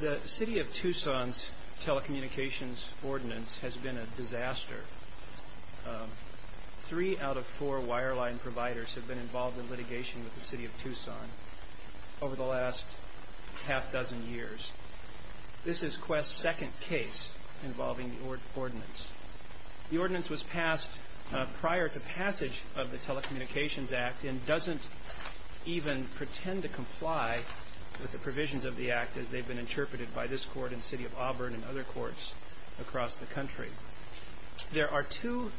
The City of Tucson's Telecommunications Ordinance has been a disaster. Three out of four wireline providers have been involved in litigation with the City of Tucson over the last half dozen years. This is Qwest's second case involving the ordinance. The ordinance was passed prior to passage of the Telecommunications Act and doesn't even pretend to comply with the provisions of the act as they've been interpreted by this court and City of Auburn and other courts across the country. There are two,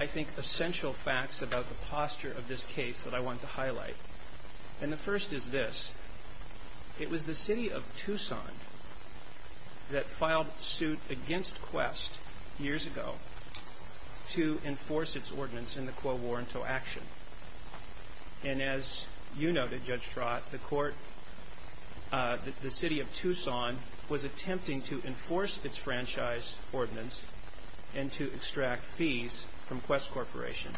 I think, essential facts about the posture of this case that I want to highlight. And the first is this. It was the City of Tucson that filed suit against Qwest years ago to enforce its ordinance in the Quo Varento action. And as you noted, Judge Trott, the court, the City of Tucson was attempting to enforce its franchise ordinance and to extract fees from Qwest Corporation.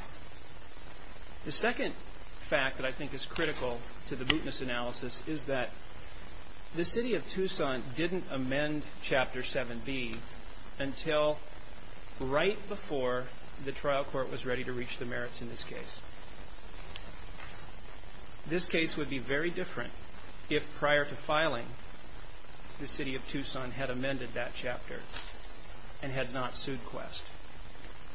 The second fact that I think is critical to that, the City of Tucson didn't amend Chapter 7B until right before the trial court was ready to reach the merits in this case. This case would be very different if prior to filing the City of Tucson had amended that chapter and had not sued Qwest.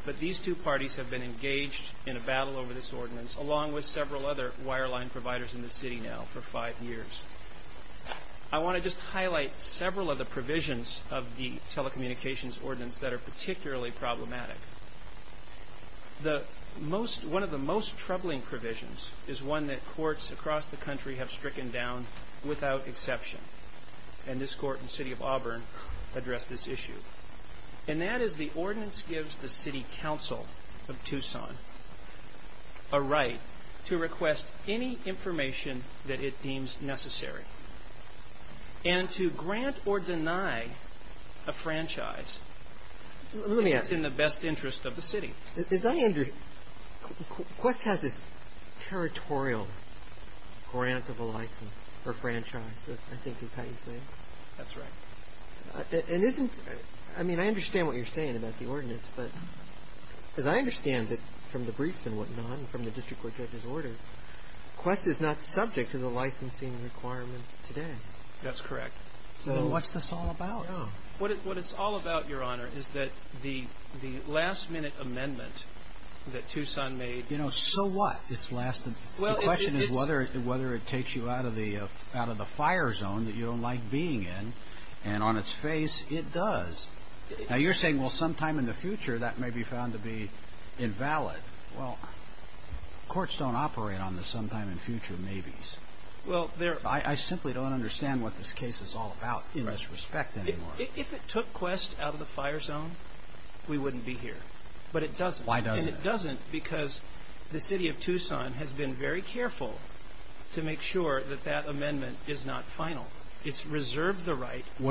But these two parties have been engaged in a battle over this ordinance along with several other wireline providers in the city now for five years. I want to just highlight several of the provisions of the telecommunications ordinance that are particularly problematic. One of the most troubling provisions is one that courts across the country have stricken down without exception. And this court in the City of Auburn addressed this issue. And that is the ordinance gives the City Council of Tucson a right to request any information that it deems necessary. And to grant or deny a franchise that's in the best interest of the city. Let me ask you, does that mean, Qwest has this territorial grant of a license for franchises, I think is how you say it? That's right. I mean, I understand what you're saying about the ordinance, but as I understand it from the briefs and whatnot and from the district court judge's order, Qwest is not subject to the licensing requirements today. That's correct. So what's this all about? What it's all about, Your Honor, is that the last minute amendment that Tucson made You know, so what? The question is whether it takes you out of the fire zone that you don't like being in. And on its face, it does. Now you're saying, well, sometime in the future, that may be found to be invalid. Well, courts don't operate on the sometime in the future maybes. I simply don't understand what this case is all about in this respect anymore. If it took Qwest out of the fire zone, we wouldn't be here. But it doesn't. Why doesn't it? And it doesn't because the City of Tucson has been very careful to make sure that that What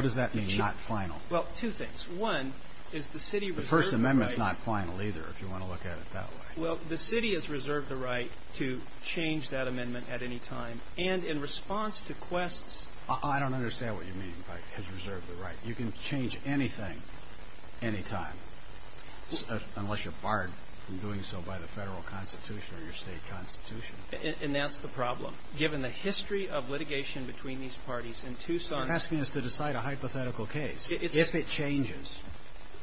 does that mean, not final? Well, two things. One is the City The First Amendment's not final either, if you want to look at it that way. Well, the City has reserved the right to change that amendment at any time. And in response to Qwest's I don't understand what you mean by has reserved the right. You can change anything, anytime, unless you're barred from doing so by the federal constitution or your state constitution. And that's the problem. Given the history of litigation between these parties in Tucson You're asking us to decide a hypothetical case, if it changes.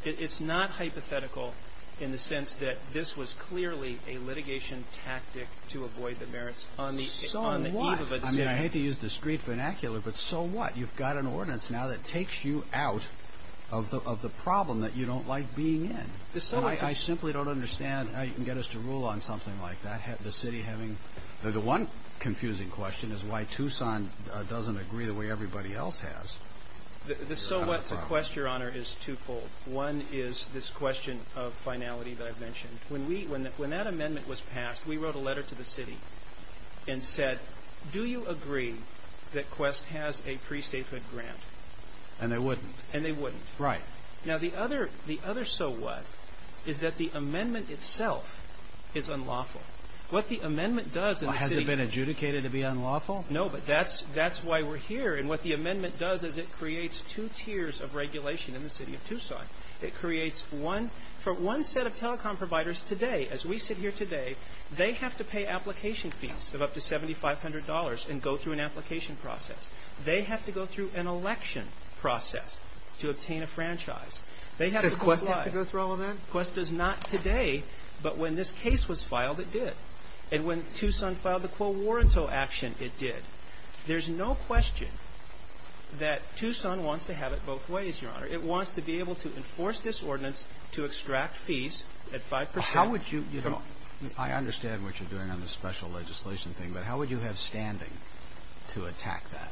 It's not hypothetical in the sense that this was clearly a litigation tactic to avoid the merits on the eve of a decision. So what? I mean, I hate to use discreet vernacular, but so what? You've got an ordinance now that takes you out of the problem that you don't like being in. I simply don't understand how you can get us to rule on something like that. The one confusing question is why Tucson doesn't agree the way everybody else has. The so what to Qwest, Your Honor, is twofold. One is this question of finality that I've mentioned. When that amendment was passed, we wrote a letter to the City and said, Do you agree that Qwest has a pre-statehood grant? And they wouldn't. And they wouldn't. Right. Now, the other so what is that the amendment itself is unlawful. What the amendment does in the City of Tucson Has it been adjudicated to be unlawful? No, but that's why we're here. And what the amendment does is it creates two tiers of regulation in the City of Tucson. It creates one, for one set of telecom providers today, as we sit here today, they have to pay application fees of up to $7,500 and go through an application process. They have to go through an election process to obtain a franchise. Does Qwest have to go through all of that? Qwest does not today, but when this case was filed, it did. And when Tucson filed the quo warranto action, it did. There's no question that Tucson wants to have it both ways, Your Honor. It wants to be able to enforce this ordinance to extract fees at 5%. How would you, you know, I understand what you're doing on the special legislation thing, but how would you have standing to attack that?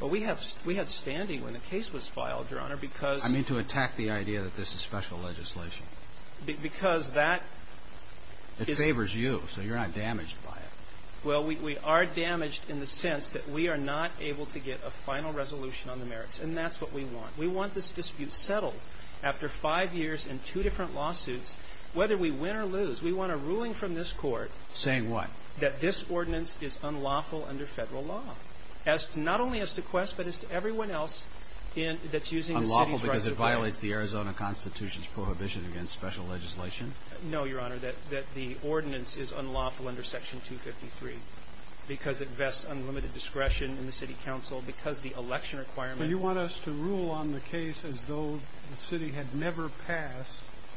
Well, we have standing when the case was filed, Your Honor, because I mean to attack the idea that this is special legislation. Because that is It favors you, so you're not damaged by it. Well, we are damaged in the sense that we are not able to get a final resolution on the merits, and that's what we want. We want this dispute settled after five years and two different lawsuits. Whether we win or lose, we want a ruling from this Court Saying what? That this ordinance is unlawful under federal law. Not only as to Qwest, but as to everyone else that's using the city's rights of way. Unlawful because it violates the Arizona Constitution's prohibition against special legislation? No, Your Honor. That the ordinance is unlawful under Section 253. Because it vests unlimited discretion in the city council. Because the election requirement But you want us to rule on the case as though the city had never passed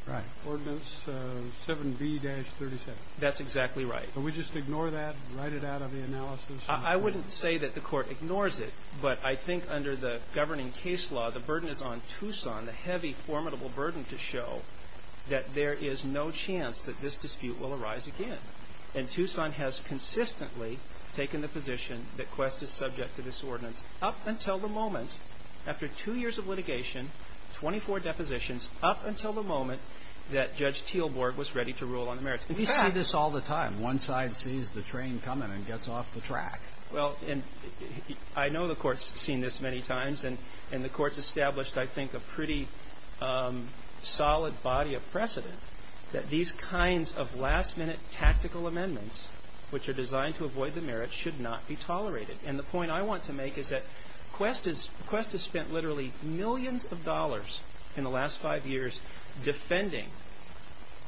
Right. Ordinance 7B-37. That's exactly right. Can we just ignore that and write it out of the analysis? I wouldn't say that the Court ignores it, but I think under the governing case law, the burden is on Tucson, the heavy, formidable burden to show that there is no chance that this dispute will arise again. And Tucson has consistently taken the position that Qwest is subject to this ordinance up until the moment, after two years of litigation, 24 depositions, up until the moment that Judge Teelborg was ready to rule on the merits. You see this all the time. One side sees the train coming and gets off the track. Well, and I know the Court's seen this many times, and the Court's established, I think, a pretty solid body of precedent that these kinds of last-minute tactical amendments, which are designed to avoid the merits, should not be tolerated. And the point I want to make is that Qwest has spent literally millions of dollars in the last five years defending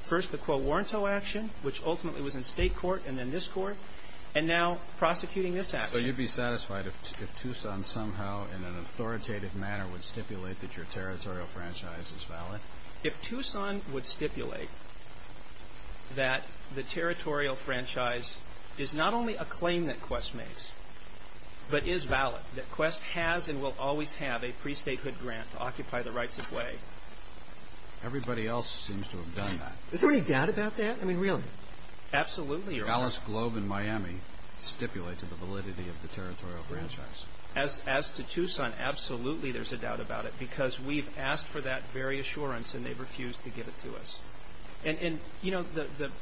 first the Quo Warranto action, which ultimately was in State court and then this Court, and now prosecuting this action. So you'd be satisfied if Tucson somehow in an authoritative manner would stipulate that your territorial franchise is valid? If Tucson would stipulate that the territorial franchise is not only a claim that Qwest makes, but is valid, that Qwest has and will always have a pre-statehood grant to occupy the rights of way. Everybody else seems to have done that. Is there any doubt about that? I mean, really? Absolutely. Alice Globe in Miami stipulates the validity of the territorial franchise. As to Tucson, absolutely there's a doubt about it because we've asked for that very assurance and they've refused to give it to us. And, you know,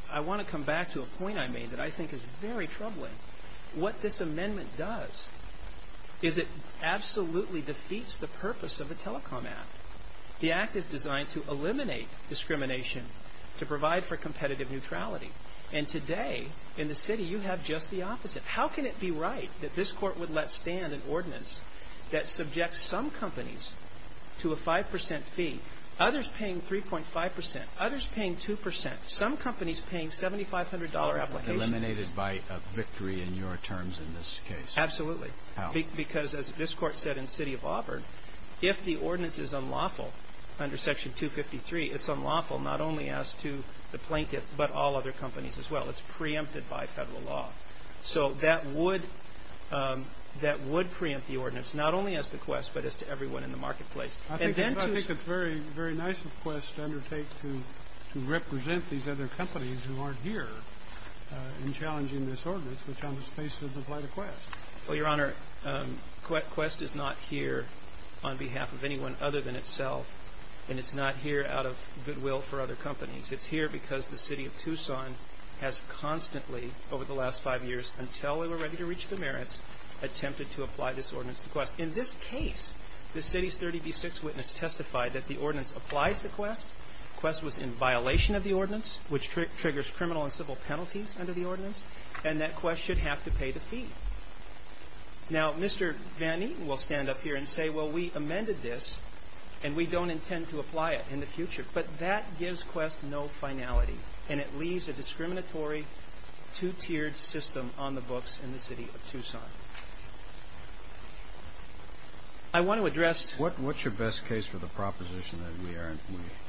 I want to come back to a point I made that I think is very troubling. What this amendment does is it absolutely defeats the purpose of the Telecom Act. The Act is designed to eliminate discrimination to provide for competitive neutrality. And today in the city you have just the opposite. How can it be right that this Court would let stand an ordinance that subjects some companies to a 5% fee, others paying 3.5%, others paying 2%, some companies paying $7,500 applications. Eliminated by a victory in your terms in this case. Absolutely. How? Because as this Court said in the city of Auburn, if the ordinance is unlawful under Section 253, it's unlawful not only as to the plaintiff but all other companies as well. It's preempted by federal law. So that would preempt the ordinance not only as to Qwest but as to everyone in the marketplace. I think it's very, very nice of Qwest to undertake to represent these other companies who aren't here in challenging this ordinance which on its face doesn't apply to Qwest. Well, Your Honor, Qwest is not here on behalf of anyone other than itself and it's not here out of goodwill for other companies. It's here because the city of Tucson has constantly over the last five years, until we were ready to reach the merits, attempted to apply this ordinance to Qwest. In this case, the city's 30 v. 6 witness testified that the ordinance applies to Qwest. Qwest was in violation of the ordinance which triggers criminal and civil penalties under the ordinance and that Qwest should have to pay the fee. Now, Mr. Van Eaton will stand up here and say, well, we amended this and we don't intend to apply it in the future. But that gives Qwest no finality and it leaves a discriminatory two-tiered system on the books in the city of Tucson. I want to address What's your best case for the proposition that we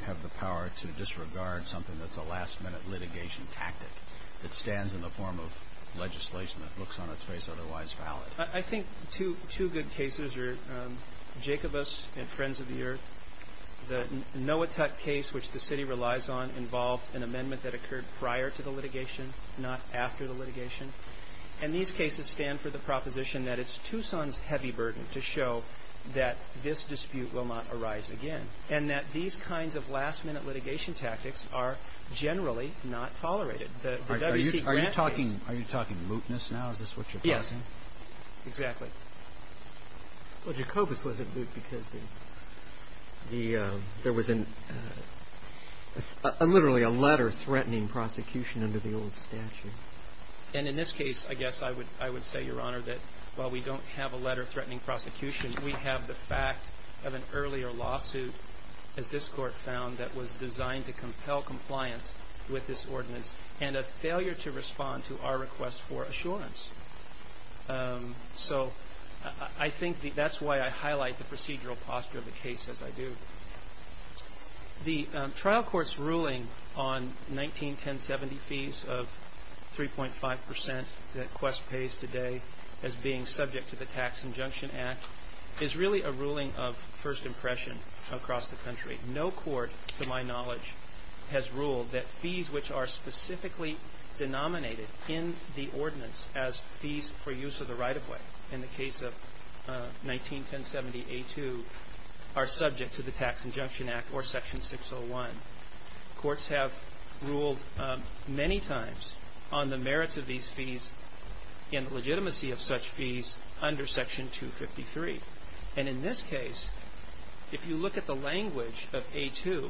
have the power to disregard something that's a last-minute litigation tactic that stands in the form of legislation that looks on its face otherwise valid? I think two good cases are Jacobus and Friends of the Earth. The Noah Tutt case, which the city relies on, involved an amendment that occurred prior to the litigation, not after the litigation. And these cases stand for the proposition that it's Tucson's heavy burden to show that this dispute will not arise again and that these kinds of last-minute litigation tactics are generally not tolerated. The WT Grant case Are you talking mootness now? Is this what you're talking? Yes. Exactly. Well, Jacobus wasn't moot because there was literally a letter threatening prosecution under the old statute. And in this case, I guess I would say, Your Honor, that while we don't have a letter threatening prosecution, we have the fact of an earlier lawsuit, as this court found, that was designed to compel compliance with this ordinance and a failure to respond to our request for assurance. So I think that's why I highlight the procedural posture of the case, as I do. The trial court's ruling on 191070 fees of 3.5% that Quest pays today as being subject to the Tax Injunction Act is really a ruling of first impression across the country. No court, to my knowledge, has ruled that fees which are specifically denominated in the ordinance as fees for use of the right-of-way in the case of 191070A2 are subject to the Tax Injunction Act or Section 601. Courts have ruled many times on the merits of these fees and the legitimacy of such fees under Section 253. And in this case, if you look at the language of A2,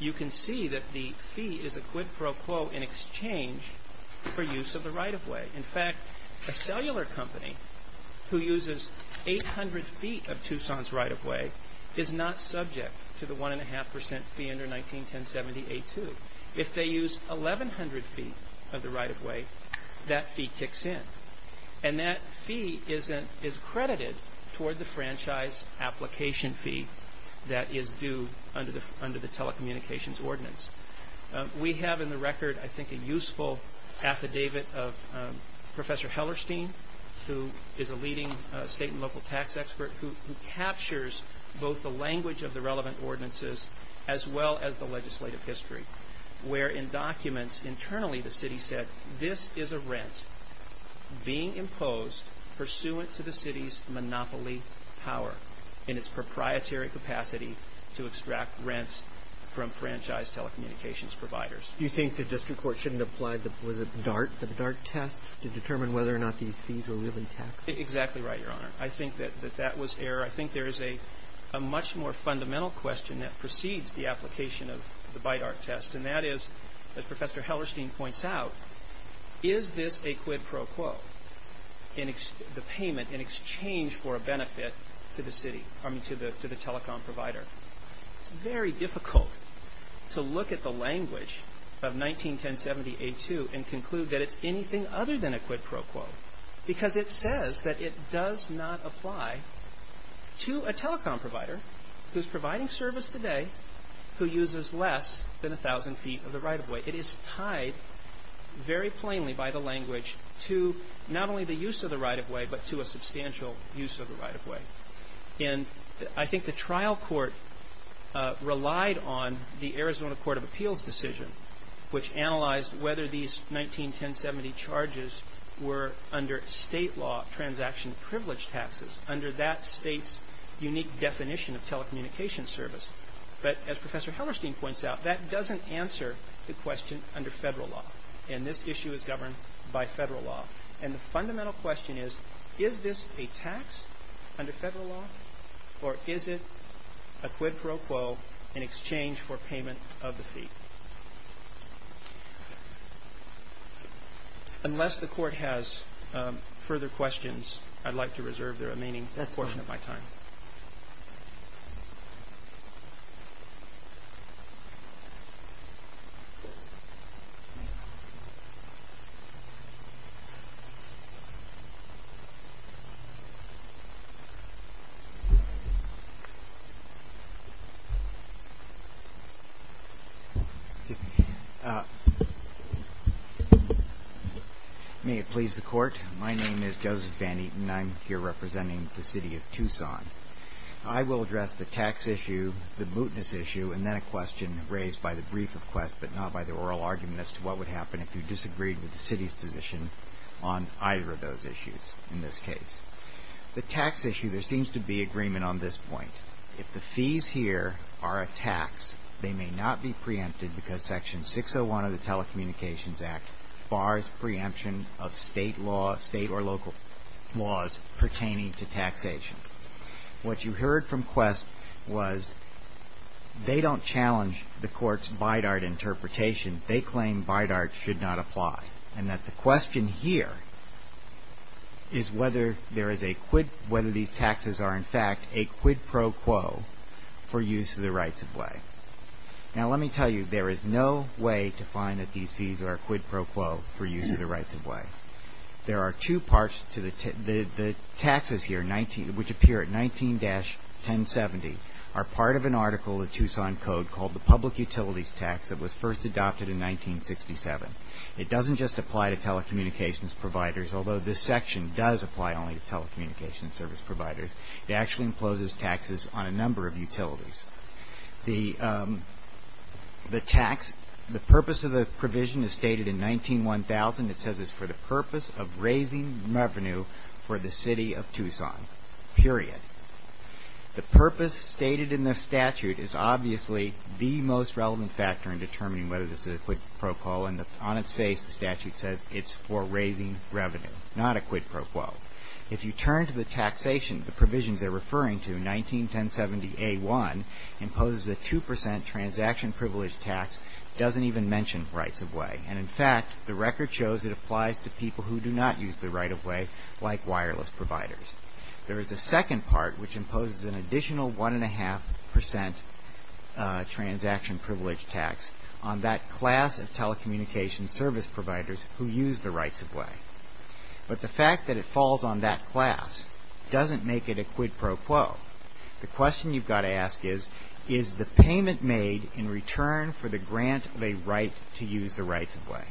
you can see that the fee is a quid pro quo in exchange for use of the right-of-way. In fact, a cellular company who uses 800 feet of Tucson's right-of-way is not subject to the 1.5% fee under 191070A2. If they use 1,100 feet of the right-of-way, that fee kicks in. And that fee is credited toward the franchise application fee that is due under the Telecommunications Ordinance. We have in the record, I think, a useful affidavit of Professor Hellerstein, who is a leading state and local tax expert who captures both the language of the relevant ordinances as well as the legislative history, where in documents internally the city said, this is a rent being imposed pursuant to the city's monopoly power in its proprietary capacity to extract rents from franchise telecommunications providers. Do you think the district court shouldn't apply the BIDART test to determine whether or not these fees were really taxed? Exactly right, Your Honor. I think that that was error. I think there is a much more fundamental question that precedes the application of the BIDART test, and that is, as Professor Hellerstein points out, is this a quid pro quo, the payment in exchange for a benefit to the telecom provider? It's very difficult to look at the language of 191070A2 and conclude that it's anything other than a quid pro quo because it says that it does not apply to a telecom provider who's providing service today, who uses less than a thousand feet of the right-of-way. It is tied very plainly by the language to not only the use of the right-of-way, but to a substantial use of the right-of-way. And I think the trial court relied on the Arizona Court of Appeals decision, which analyzed whether these 191070 charges were under state law transaction privilege taxes, under that state's unique definition of telecommunication service. But as Professor Hellerstein points out, that doesn't answer the question under federal law. And this issue is governed by federal law. And the fundamental question is, is this a tax under federal law, or is it a quid pro quo in exchange for payment of the fee? Unless the court has further questions, I'd like to reserve the remaining portion of my time. May it please the court. My name is Joseph Van Eaton. I'm here representing the city of Tucson. I will address the tax issue, the mootness issue, and then a question raised by the brief of quest, but not by the oral argument as to what would happen if you disagreed with the city's position on either of those issues in this case. The tax issue, there seems to be agreement on this point. If the fees here are a tax, they may not be preempted because section 601 of the Telecommunications Act bars preemption of state or local laws pertaining to taxation. What you heard from quest was, they don't challenge the court's BIDART interpretation. They claim BIDART should not apply. And that the question here is whether there is a quid, whether these taxes are in fact a quid pro quo for use of the rights of way. Now let me tell you, there is no way to find that these fees are a quid pro quo for use of the rights of way. There are two parts to the taxes here, which appear at 19-1070, are part of an article of the Tucson Code called the Public Utilities Tax that was first adopted in 1967. It doesn't just apply to telecommunications providers, although this section does apply only to telecommunications service providers. It actually imposes taxes on a number of utilities. The purpose of the provision is stated in 19-1000. It says it's for the purpose of raising revenue for the city of Tucson, period. The purpose stated in the statute is obviously the most relevant factor in determining whether this is a quid pro quo. And on its face, the statute says it's for raising revenue, not a quid pro quo. If you turn to the taxation, the provisions they're referring to, 19-1070A1 imposes a 2% transaction privilege tax, doesn't even mention rights of way. And in fact, the record shows it applies to people who do not use the right of way, like wireless providers. There is a second part, which imposes an additional 1.5% transaction privilege tax on that class of telecommunications service providers who use the rights of way. But the fact that it falls on that class doesn't make it a quid pro quo. The question you've got to ask is, is the payment made in return for the grant of a right to use the rights of way?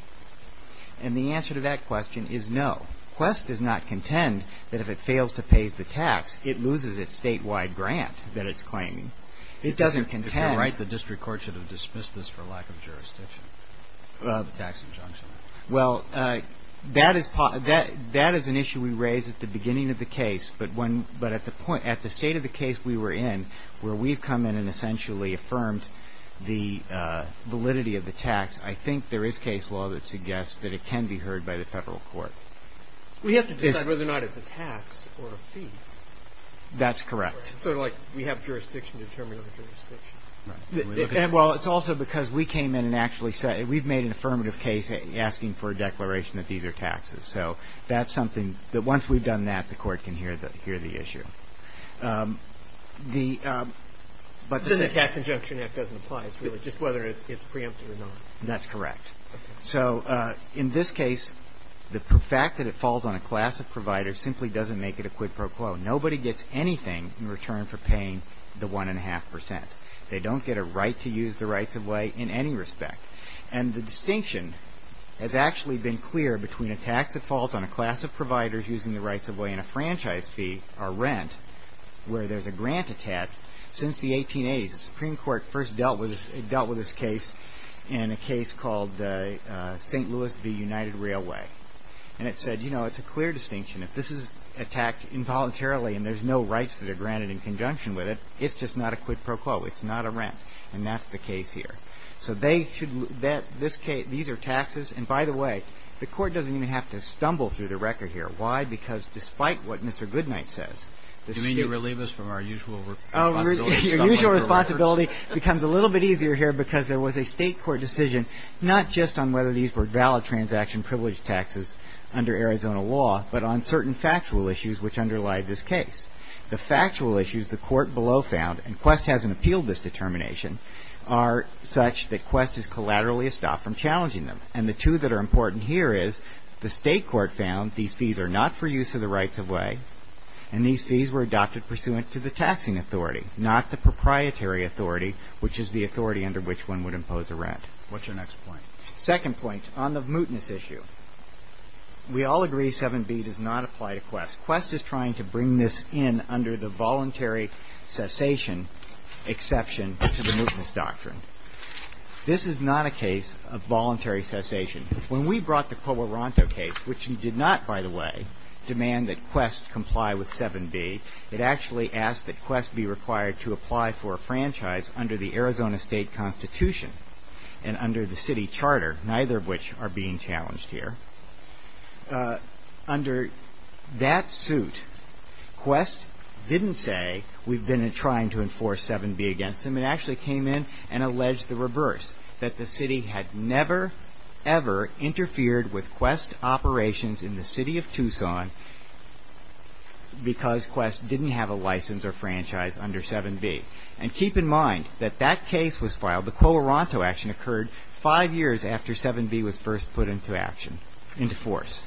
And the answer to that question is no. Quest does not contend that if it fails to pay the tax, it loses its statewide grant that it's claiming. It doesn't contend... Well, that is an issue we raised at the beginning of the case. But at the point, at the state of the case we were in, where we've come in and essentially affirmed the validity of the tax, I think there is case law that suggests that it can be heard by the federal court. We have to decide whether or not it's a tax or a fee. That's correct. Sort of like we have jurisdiction to determine our jurisdiction. Well, it's also because we came in and actually said, we've made an affirmative case asking for a declaration that these are taxes. So that's something that once we've done that, the court can hear the issue. Then the tax injunction act doesn't apply, it's really just whether it's preempted or not. That's correct. So in this case, the fact that it falls on a class of providers simply doesn't make it a quid pro quo. Nobody gets anything in return for paying the 1.5%. They don't get a right to use the rights-of-way in any respect. And the distinction has actually been clear between a tax that falls on a class of providers using the rights-of-way and a franchise fee, or rent, where there's a grant attack. Since the 1880s, the Supreme Court first dealt with this case in a case called St. Louis v. United Railway. And it said, you know, it's a clear distinction. If this is attacked involuntarily and there's no rights that are granted in conjunction with it, it's just not a quid pro quo. It's not a rent. And that's the case here. So they should... These are taxes. And by the way, the court doesn't even have to stumble through the record here. Why? Because despite what Mr. Goodnight says, the state... You mean you relieve us from our usual responsibility? Your usual responsibility becomes a little bit easier here because there was a state court decision not just on whether these were valid transaction privilege taxes under Arizona law, but on certain factual issues which underlie this case. The factual issues the court below found, and Quest hasn't appealed this determination, are such that Quest is collaterally stopped from challenging them. And the two that are important here is the state court found these fees are not for use of the rights-of-way, and these fees were adopted pursuant to the taxing authority, not the proprietary authority, which is the authority under which one would impose a rent. What's your next point? Second point, on the mootness issue. We all agree 7B does not apply to Quest. Quest is trying to bring this in under the voluntary cessation exception to the mootness doctrine. This is not a case of voluntary cessation. When we brought the Coloranto case, which did not, by the way, demand that Quest comply with 7B, it actually asked that Quest be required to apply for a franchise under the Arizona State Constitution and under the city charter, neither of which are being challenged here. Under that suit, Quest didn't say, we've been trying to enforce 7B against them. It actually came in and alleged the reverse, that the city had never, ever interfered with Quest operations in the city of Tucson because Quest didn't have a license or franchise under 7B. And keep in mind that that case was filed, the Coloranto action occurred five years after 7B was first put into force.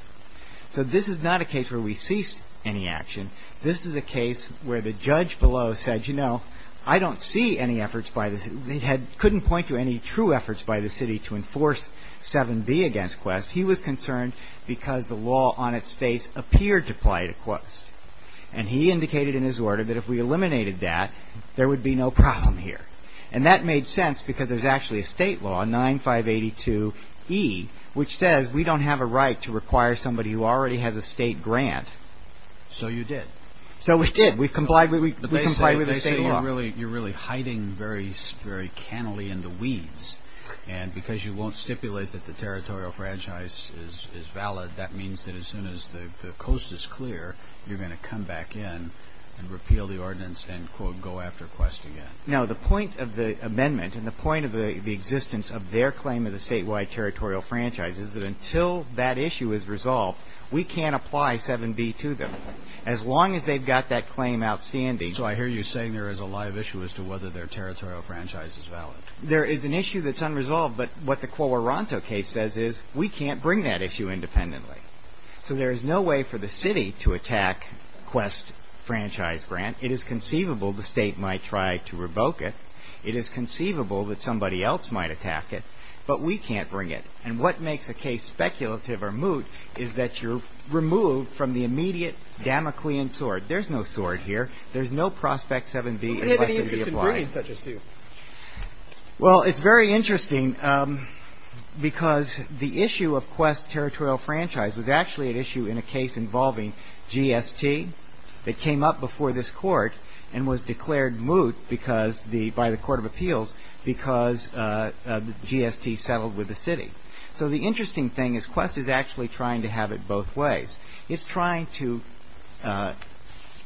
So this is not a case where we ceased any action. This is a case where the judge below said, I don't see any efforts by the city, couldn't point to any true efforts by the city to enforce 7B against Quest. He was concerned because the law on its face appeared to apply to Quest. And he indicated in his order that if we eliminated that, there would be no problem here. And that made sense because there's actually a state law, 9582E, which says we don't have a right to require somebody who already has a state grant. So you did. So we did. We complied with the state law. You're really hiding very cannily in the weeds. And because you won't stipulate that the territorial franchise is valid, that means that as soon as the coast is clear, No, the point of the amendment and the point of the existence of their claim of the statewide territorial franchise is that until that issue is resolved, we can't apply 7B to them. As long as they've got that claim outstanding. So I hear you saying there is a live issue as to whether their territorial franchise is valid. There is an issue that's unresolved, but what the Coloranto case says is, we can't bring that issue independently. So there is no way for the city to attack Quest franchise grant. It is conceivable the state might try to revoke it. It is conceivable that somebody else might attack it, but we can't bring it. And what makes a case speculative or moot is that you're removed from the immediate Damoclean sword. There's no sword here. There's no prospect 7B. Who had any interest in bringing such a suit? Well, it's very interesting because the issue of Quest territorial franchise was actually an issue in a case involving GST that came up before this court and was declared moot by the Court of Appeals because GST settled with the city. So the interesting thing is Quest is actually trying to have it both ways. It's trying to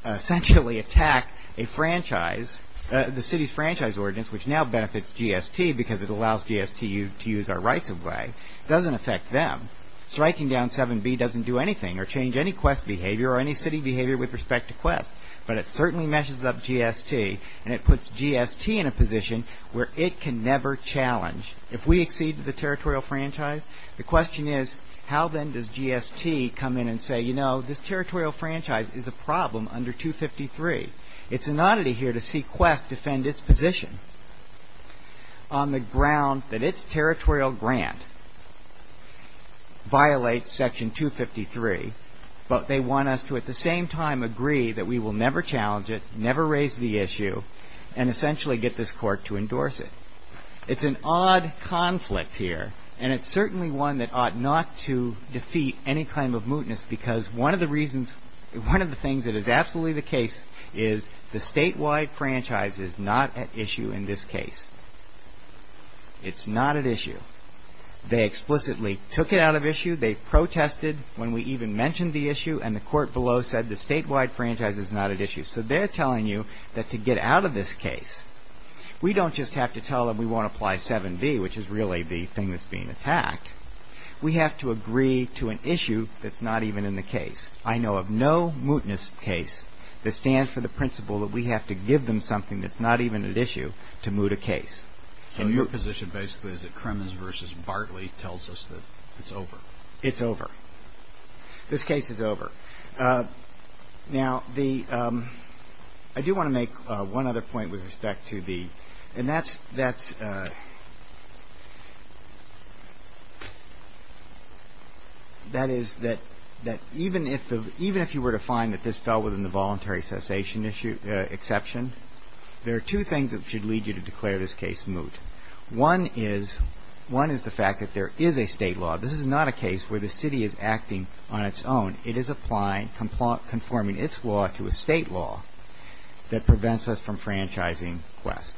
essentially attack a franchise, the city's franchise ordinance, which now benefits GST because it allows GST to use our rights away. It doesn't affect them. Striking down 7B doesn't do anything or change any Quest behavior or any city behavior with respect to Quest, but it certainly meshes up GST, and it puts GST in a position where it can never challenge. If we accede to the territorial franchise, the question is, how then does GST come in and say, you know, this territorial franchise is a problem under 253? It's an oddity here to see Quest defend its position on the ground that its territorial grant violates section 253, but they want us to at the same time agree that we will never challenge it, never raise the issue, and essentially get this court to endorse it. It's an odd conflict here, and it's certainly one that ought not to defeat any claim of mootness because one of the things that is absolutely the case is the statewide franchise is not at issue in this case. It's not at issue. They explicitly took it out of issue. They protested when we even mentioned the issue, and the court below said the statewide franchise is not at issue. So they're telling you that to get out of this case, we don't just have to tell them we won't apply 7B, which is really the thing that's being attacked. We have to agree to an issue that's not even in the case. I know of no mootness case that stands for the principle that we have to give them something that's not even at issue to moot a case. So your position basically is that Kremens v. Bartley tells us that it's over. It's over. This case is over. Now, I do want to make one other point with respect to the ‑‑ and that is that even if you were to find that this fell within the voluntary cessation exception, there are two things that should lead you to declare this case moot. One is the fact that there is a state law. This is not a case where the city is acting on its own. It is applying, conforming its law to a state law that prevents us from franchising West.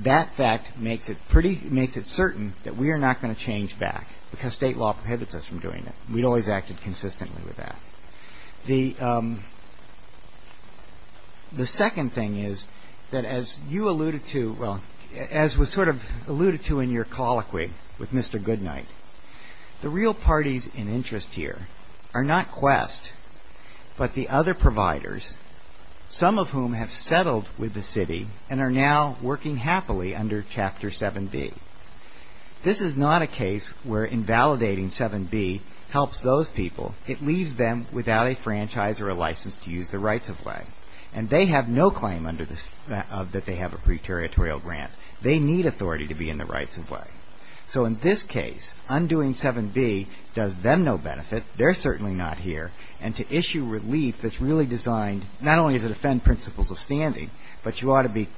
That fact makes it pretty ‑‑ makes it certain that we are not going to change back because state law prohibits us from doing that. We've always acted consistently with that. The second thing is that as you alluded to, well, as was sort of alluded to in your colloquy with Mr. Goodnight, the real parties in interest here are not Quest but the other providers, some of whom have settled with the city and are now working happily under Chapter 7B. This is not a case where invalidating 7B helps those people. It leaves them without a franchise or a license to use the rights of way, and they have no claim under the ‑‑ that they have a preteritorial grant. They need authority to be in the rights of way. So in this case, undoing 7B does them no benefit. They're certainly not here. And to issue relief that's really designed not only to defend principles of standing, but you ought to be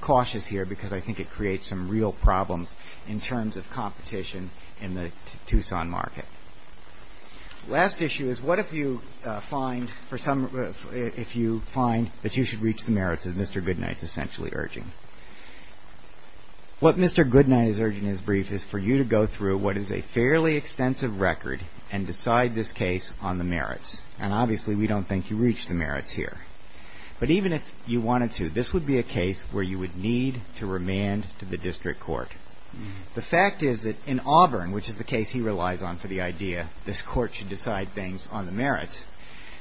cautious here because I think it creates some real problems in terms of competition in the Tucson market. The last issue is what if you find for some ‑‑ if you find that you should reach the merits as Mr. Goodnight is essentially urging. What Mr. Goodnight is urging in his brief is for you to go through what is a fairly extensive record and decide this case on the merits. And obviously we don't think you reach the merits here. But even if you wanted to, this would be a case where you would need to remand to the district court. The fact is that in Auburn, which is the case he relies on for the idea, this court should decide things on the merits,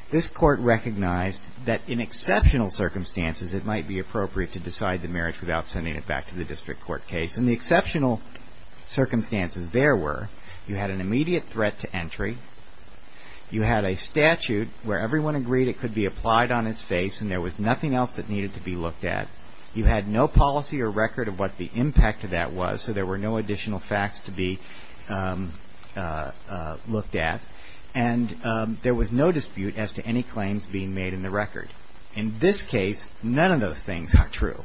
this court recognized that in exceptional circumstances it might be appropriate to decide the merits without sending it back to the district court case. In the exceptional circumstances there were, you had an immediate threat to entry. You had a statute where everyone agreed it could be applied on its face and there was nothing else that needed to be looked at. You had no policy or record of what the impact of that was, so there were no additional facts to be looked at. And there was no dispute as to any claims being made in the record. In this case, none of those things are true.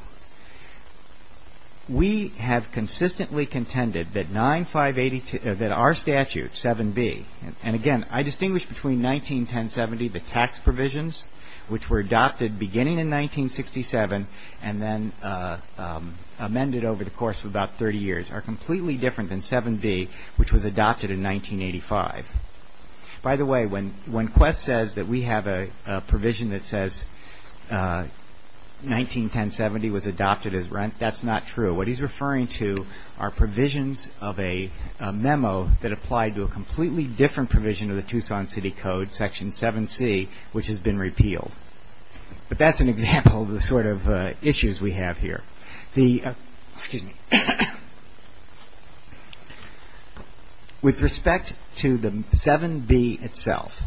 We have consistently contended that 9582, that our statute, 7B, and again, I distinguish between 191070, the tax provisions, which were adopted beginning in 1967 and then amended over the course of about 30 years, are completely different than 7B, which was adopted in 1985. By the way, when Quest says that we have a provision that says 191070 was adopted as rent, that's not true. What he's referring to are provisions of a memo that applied to a completely different provision of the Tucson City Code, Section 7C, which has been repealed. But that's an example of the sort of issues we have here. Excuse me. With respect to the 7B itself,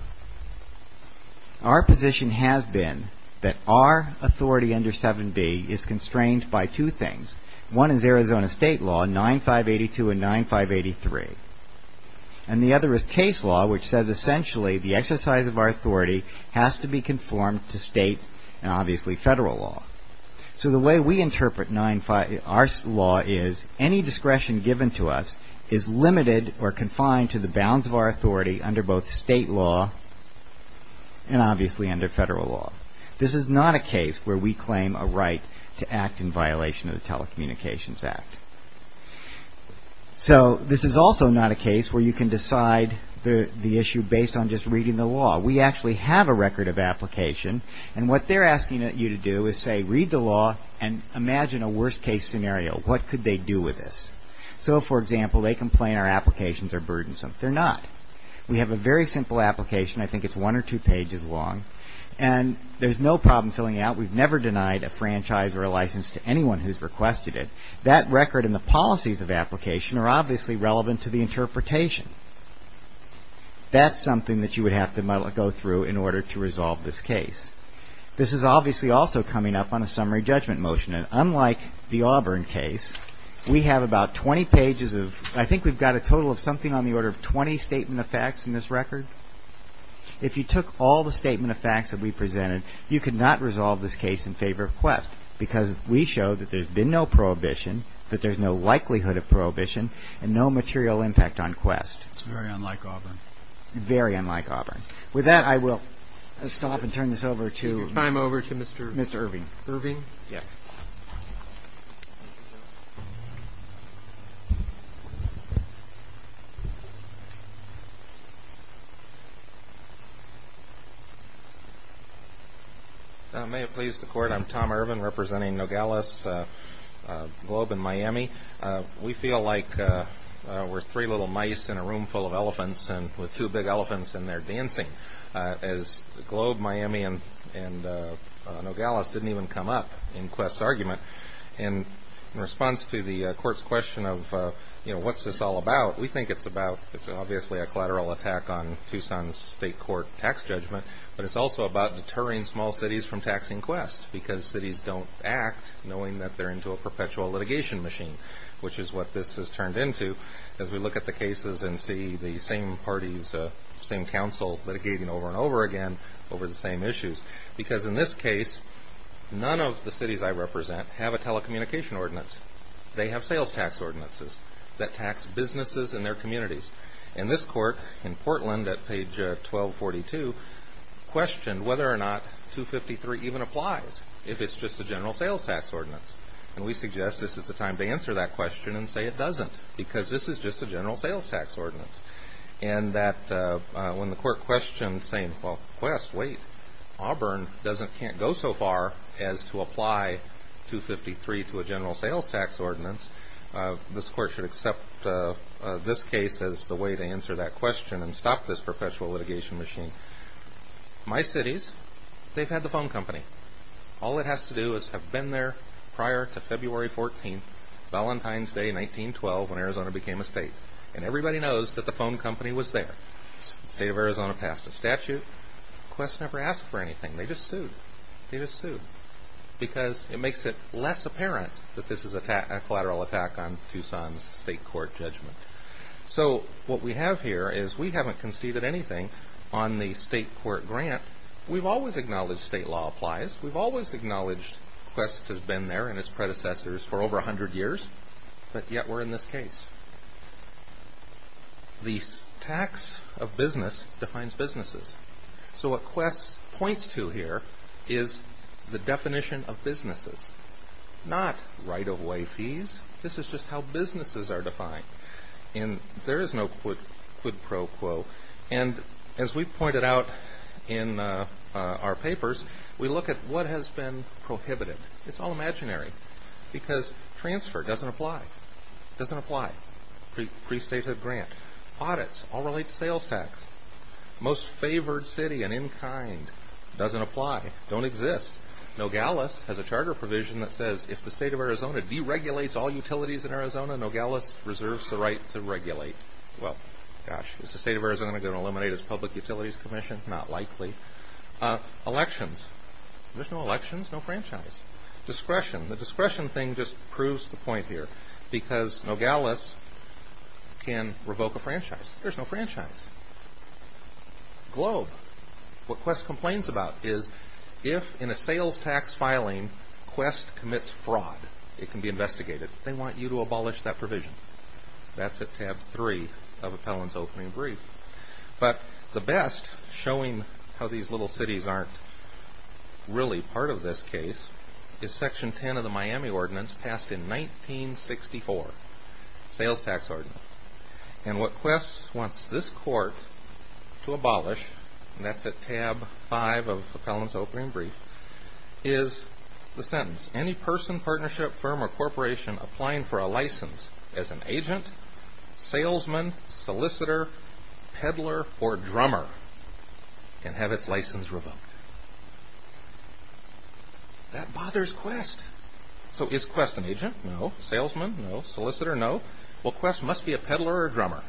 our position has been that our authority under 7B is constrained by two things. One is Arizona state law, 9582 and 9583, and the other is case law, which says essentially the exercise of our authority has to be conformed to state and obviously federal law. So the way we interpret our law is any discretion given to us is limited or confined to the bounds of our authority under both state law and obviously under federal law. This is not a case where we claim a right to act in violation of the Telecommunications Act. So this is also not a case where you can decide the issue based on just reading the law. We actually have a record of application, and what they're asking you to do is say read the law and imagine a worst-case scenario. What could they do with this? So, for example, they complain our applications are burdensome. They're not. We have a very simple application. I think it's one or two pages long, and there's no problem filling it out. We've never denied a franchise or a license to anyone who's requested it. That record and the policies of application are obviously relevant to the interpretation. That's something that you would have to go through in order to resolve this case. This is obviously also coming up on a summary judgment motion, and unlike the Auburn case, we have about 20 pages of I think we've got a total of something on the order of 20 statement of facts in this record. If you took all the statement of facts that we presented, you could not resolve this case in favor of Quest because we show that there's been no prohibition, that there's no likelihood of prohibition, and no material impact on Quest. Very unlike Auburn. Very unlike Auburn. With that, I will stop and turn this over to Mr. Irving. Irving? Yes. May it please the Court, I'm Tom Irving representing Nogales Globe in Miami. We feel like we're three little mice in a room full of elephants with two big elephants and they're dancing. As Globe, Miami, and Nogales didn't even come up in Quest's argument. In response to the Court's question of what's this all about, we think it's about, it's obviously a collateral attack on Tucson's state court tax judgment, but it's also about deterring small cities from taxing Quest because cities don't act knowing that they're into a perpetual litigation machine, which is what this has turned into as we look at the cases and see the same parties, same council litigating over and over again over the same issues. Because in this case, none of the cities I represent have a telecommunication ordinance. They have sales tax ordinances that tax businesses and their communities. And this court in Portland at page 1242 questioned whether or not 253 even applies if it's just a general sales tax ordinance. And we suggest this is the time to answer that question and say it doesn't because this is just a general sales tax ordinance. And that when the court questioned saying, well, Quest, wait, Auburn can't go so far as to apply 253 to a general sales tax ordinance, this court should accept this case as the way to answer that question and stop this perpetual litigation machine. My cities, they've had the phone company. All it has to do is have been there prior to February 14th, Valentine's Day, 1912, when Arizona became a state. And everybody knows that the phone company was there. The state of Arizona passed a statute. Quest never asked for anything. They just sued. They just sued because it makes it less apparent that this is a collateral attack on Tucson's state court judgment. So what we have here is we haven't conceded anything on the state court grant. We've always acknowledged state law applies. We've always acknowledged Quest has been there and its predecessors for over 100 years. But yet we're in this case. The tax of business defines businesses. So what Quest points to here is the definition of businesses, not right-of-way fees. This is just how businesses are defined. And there is no quid pro quo. And as we pointed out in our papers, we look at what has been prohibited. It's all imaginary because transfer doesn't apply. It doesn't apply. Pre-statehood grant. Audits all relate to sales tax. Most favored city and in kind doesn't apply, don't exist. Nogales has a charter provision that says if the state of Arizona deregulates all utilities in Arizona, Nogales reserves the right to regulate. Well, gosh, is the state of Arizona going to eliminate its public utilities commission? Not likely. Elections. There's no elections, no franchise. Discretion. The discretion thing just proves the point here because Nogales can revoke a franchise. There's no franchise. Globe. What Quest complains about is if in a sales tax filing, Quest commits fraud, it can be investigated. They want you to abolish that provision. That's at tab three of appellant's opening brief. But the best, showing how these little cities aren't really part of this case, is section 10 of the Miami ordinance passed in 1964, sales tax ordinance. And what Quest wants this court to abolish, and that's at tab five of appellant's opening brief, is the sentence, any person, partnership, firm, or corporation applying for a license as an agent, salesman, solicitor, peddler, or drummer can have its license revoked. That bothers Quest. So is Quest an agent? No. Salesman? No. Solicitor? No. Well, Quest must be a peddler or a drummer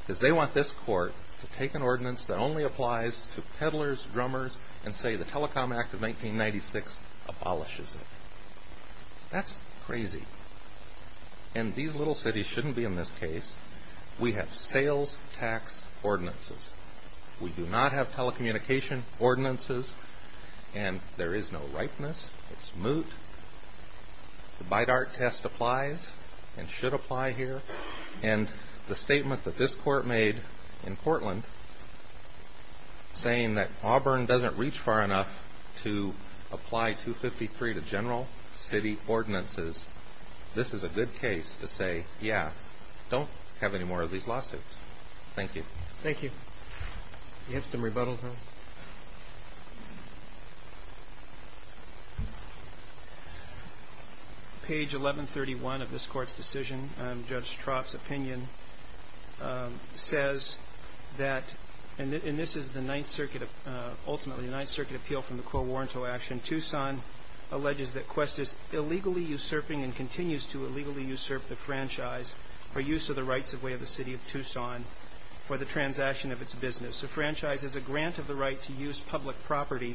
because they want this court to take an ordinance that only applies to peddlers, drummers, and say the Telecom Act of 1996 abolishes it. That's crazy. And these little cities shouldn't be in this case. We have sales tax ordinances. We do not have telecommunication ordinances, and there is no ripeness. It's moot. The BIDAR test applies and should apply here. And the statement that this court made in Portland, saying that Auburn doesn't reach far enough to apply 253 to general city ordinances, this is a good case to say, yeah, don't have any more of these lawsuits. Thank you. You have some rebuttals, huh? Page 1131 of this court's decision, Judge Trott's opinion, says that, and this is the Ninth Circuit, ultimately the Ninth Circuit appeal from the Quo Warranto action, Tucson alleges that Quest is illegally usurping and continues to illegally usurp the franchise for use of the rights of way of the city of Tucson for the transaction of its business. The franchise is a grant of the right to use public property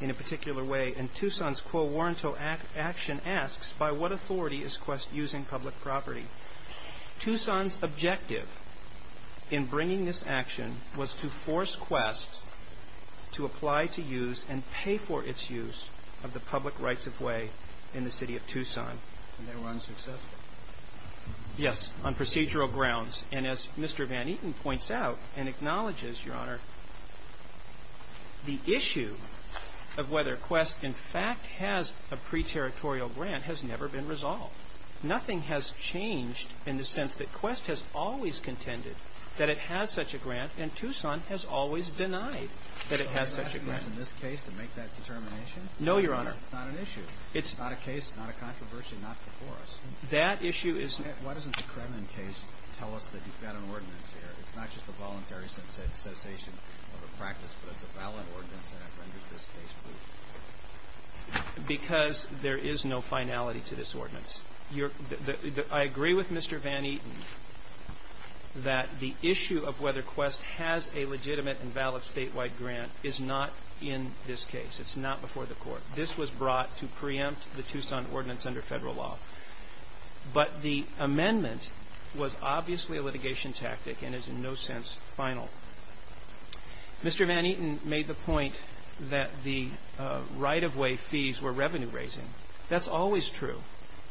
in a particular way, and Tucson's Quo Warranto action asks, by what authority is Quest using public property? Tucson's objective in bringing this action was to force Quest to apply to use and pay for its use of the public rights of way in the city of Tucson. And they were unsuccessful? Yes, on procedural grounds. And as Mr. Van Eaton points out and acknowledges, Your Honor, the issue of whether Quest, in fact, has a pre-territorial grant has never been resolved. Nothing has changed in the sense that Quest has always contended that it has such a grant, and Tucson has always denied that it has such a grant. So it's not in this case to make that determination? No, Your Honor. It's not an issue? It's not a case, not a controversy, not before us? That issue is... Why doesn't the Kremen case tell us that you've got an ordinance here? It's not just a voluntary cessation of a practice, but it's a valid ordinance, and I've rendered this case proof. Because there is no finality to this ordinance. I agree with Mr. Van Eaton that the issue of whether Quest has a legitimate and valid statewide grant is not in this case. It's not before the court. This was brought to preempt the Tucson ordinance under federal law. But the amendment was obviously a litigation tactic and is in no sense final. Mr. Van Eaton made the point that the right-of-way fees were revenue-raising. That's always true.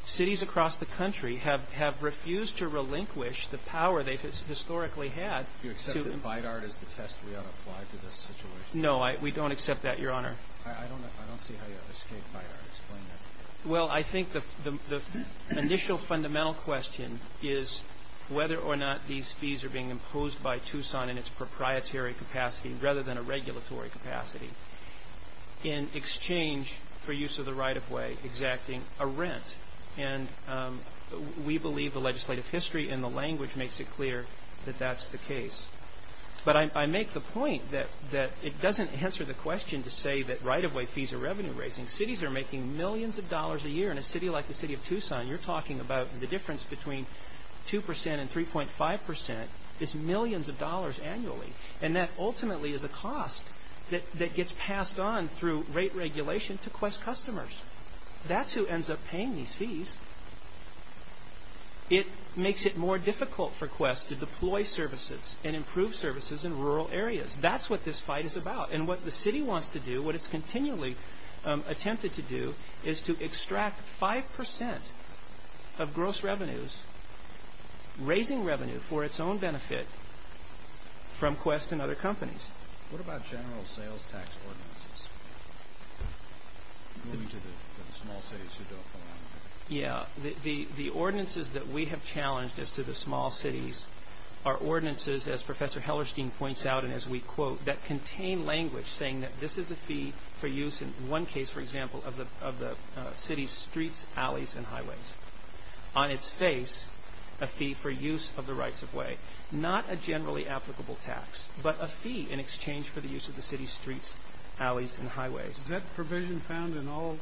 Cities across the country have refused to relinquish the power they historically had. Do you accept that BIDAR is the test we ought to apply to this situation? No, we don't accept that, Your Honor. I don't see how you escape BIDAR. Explain that to me. Well, I think the initial fundamental question is whether or not these fees are being imposed by Tucson in its proprietary capacity rather than a regulatory capacity in exchange for use of the right-of-way exacting a rent. And we believe the legislative history and the language makes it clear that that's the case. But I make the point that it doesn't answer the question to say that right-of-way fees are revenue-raising. Cities are making millions of dollars a year in a city like the city of Tucson. You're talking about the difference between 2% and 3.5% is millions of dollars annually. And that ultimately is a cost that gets passed on through rate regulation to Quest customers. That's who ends up paying these fees. It makes it more difficult for Quest to deploy services and improve services in rural areas. That's what this fight is about. And what the city wants to do, what it's continually attempted to do, is to extract 5% of gross revenues, raising revenue for its own benefit from Quest and other companies. What about general sales tax ordinances? Moving to the small cities who don't belong there. Yeah. The ordinances that we have challenged as to the small cities are ordinances, as Professor Hellerstein points out and as we quote, that contain language saying that this is a fee for use in one case, for example, of the city's streets, alleys, and highways. On its face, a fee for use of the rights-of-way. Not a generally applicable tax, but a fee in exchange for the use of the city's streets, alleys, and highways. Is that provision found in all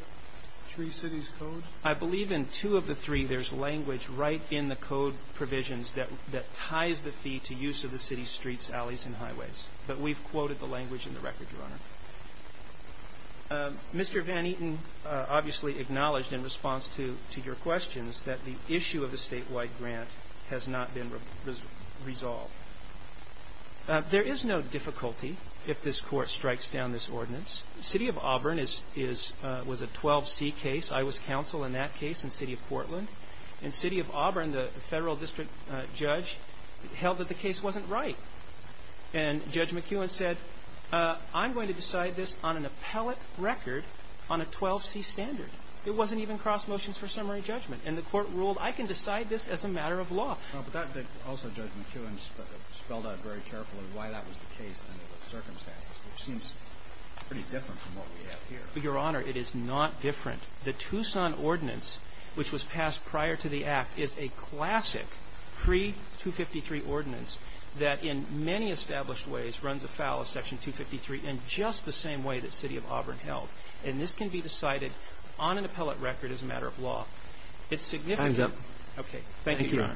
three cities' codes? I believe in two of the three there's language right in the code provisions that ties the fee to use of the city's streets, alleys, and highways. But we've quoted the language in the record, Your Honor. Mr. Van Eaton obviously acknowledged in response to your questions that the issue of the statewide grant has not been resolved. There is no difficulty if this court strikes down this ordinance. The city of Auburn was a 12C case. I was counsel in that case in the city of Portland. And city of Auburn, the federal district judge, held that the case wasn't right. And Judge McEwen said, I'm going to decide this on an appellate record on a 12C standard. It wasn't even cross motions for summary judgment. And the court ruled, I can decide this as a matter of law. But also Judge McEwen spelled out very carefully why that was the case and the circumstances, which seems pretty different from what we have here. Your Honor, it is not different. The Tucson ordinance, which was passed prior to the act, is a classic pre-253 ordinance that in many established ways runs afoul of Section 253 in just the same way that city of Auburn held. And this can be decided on an appellate record as a matter of law. It's significant. Thank you, Your Honor.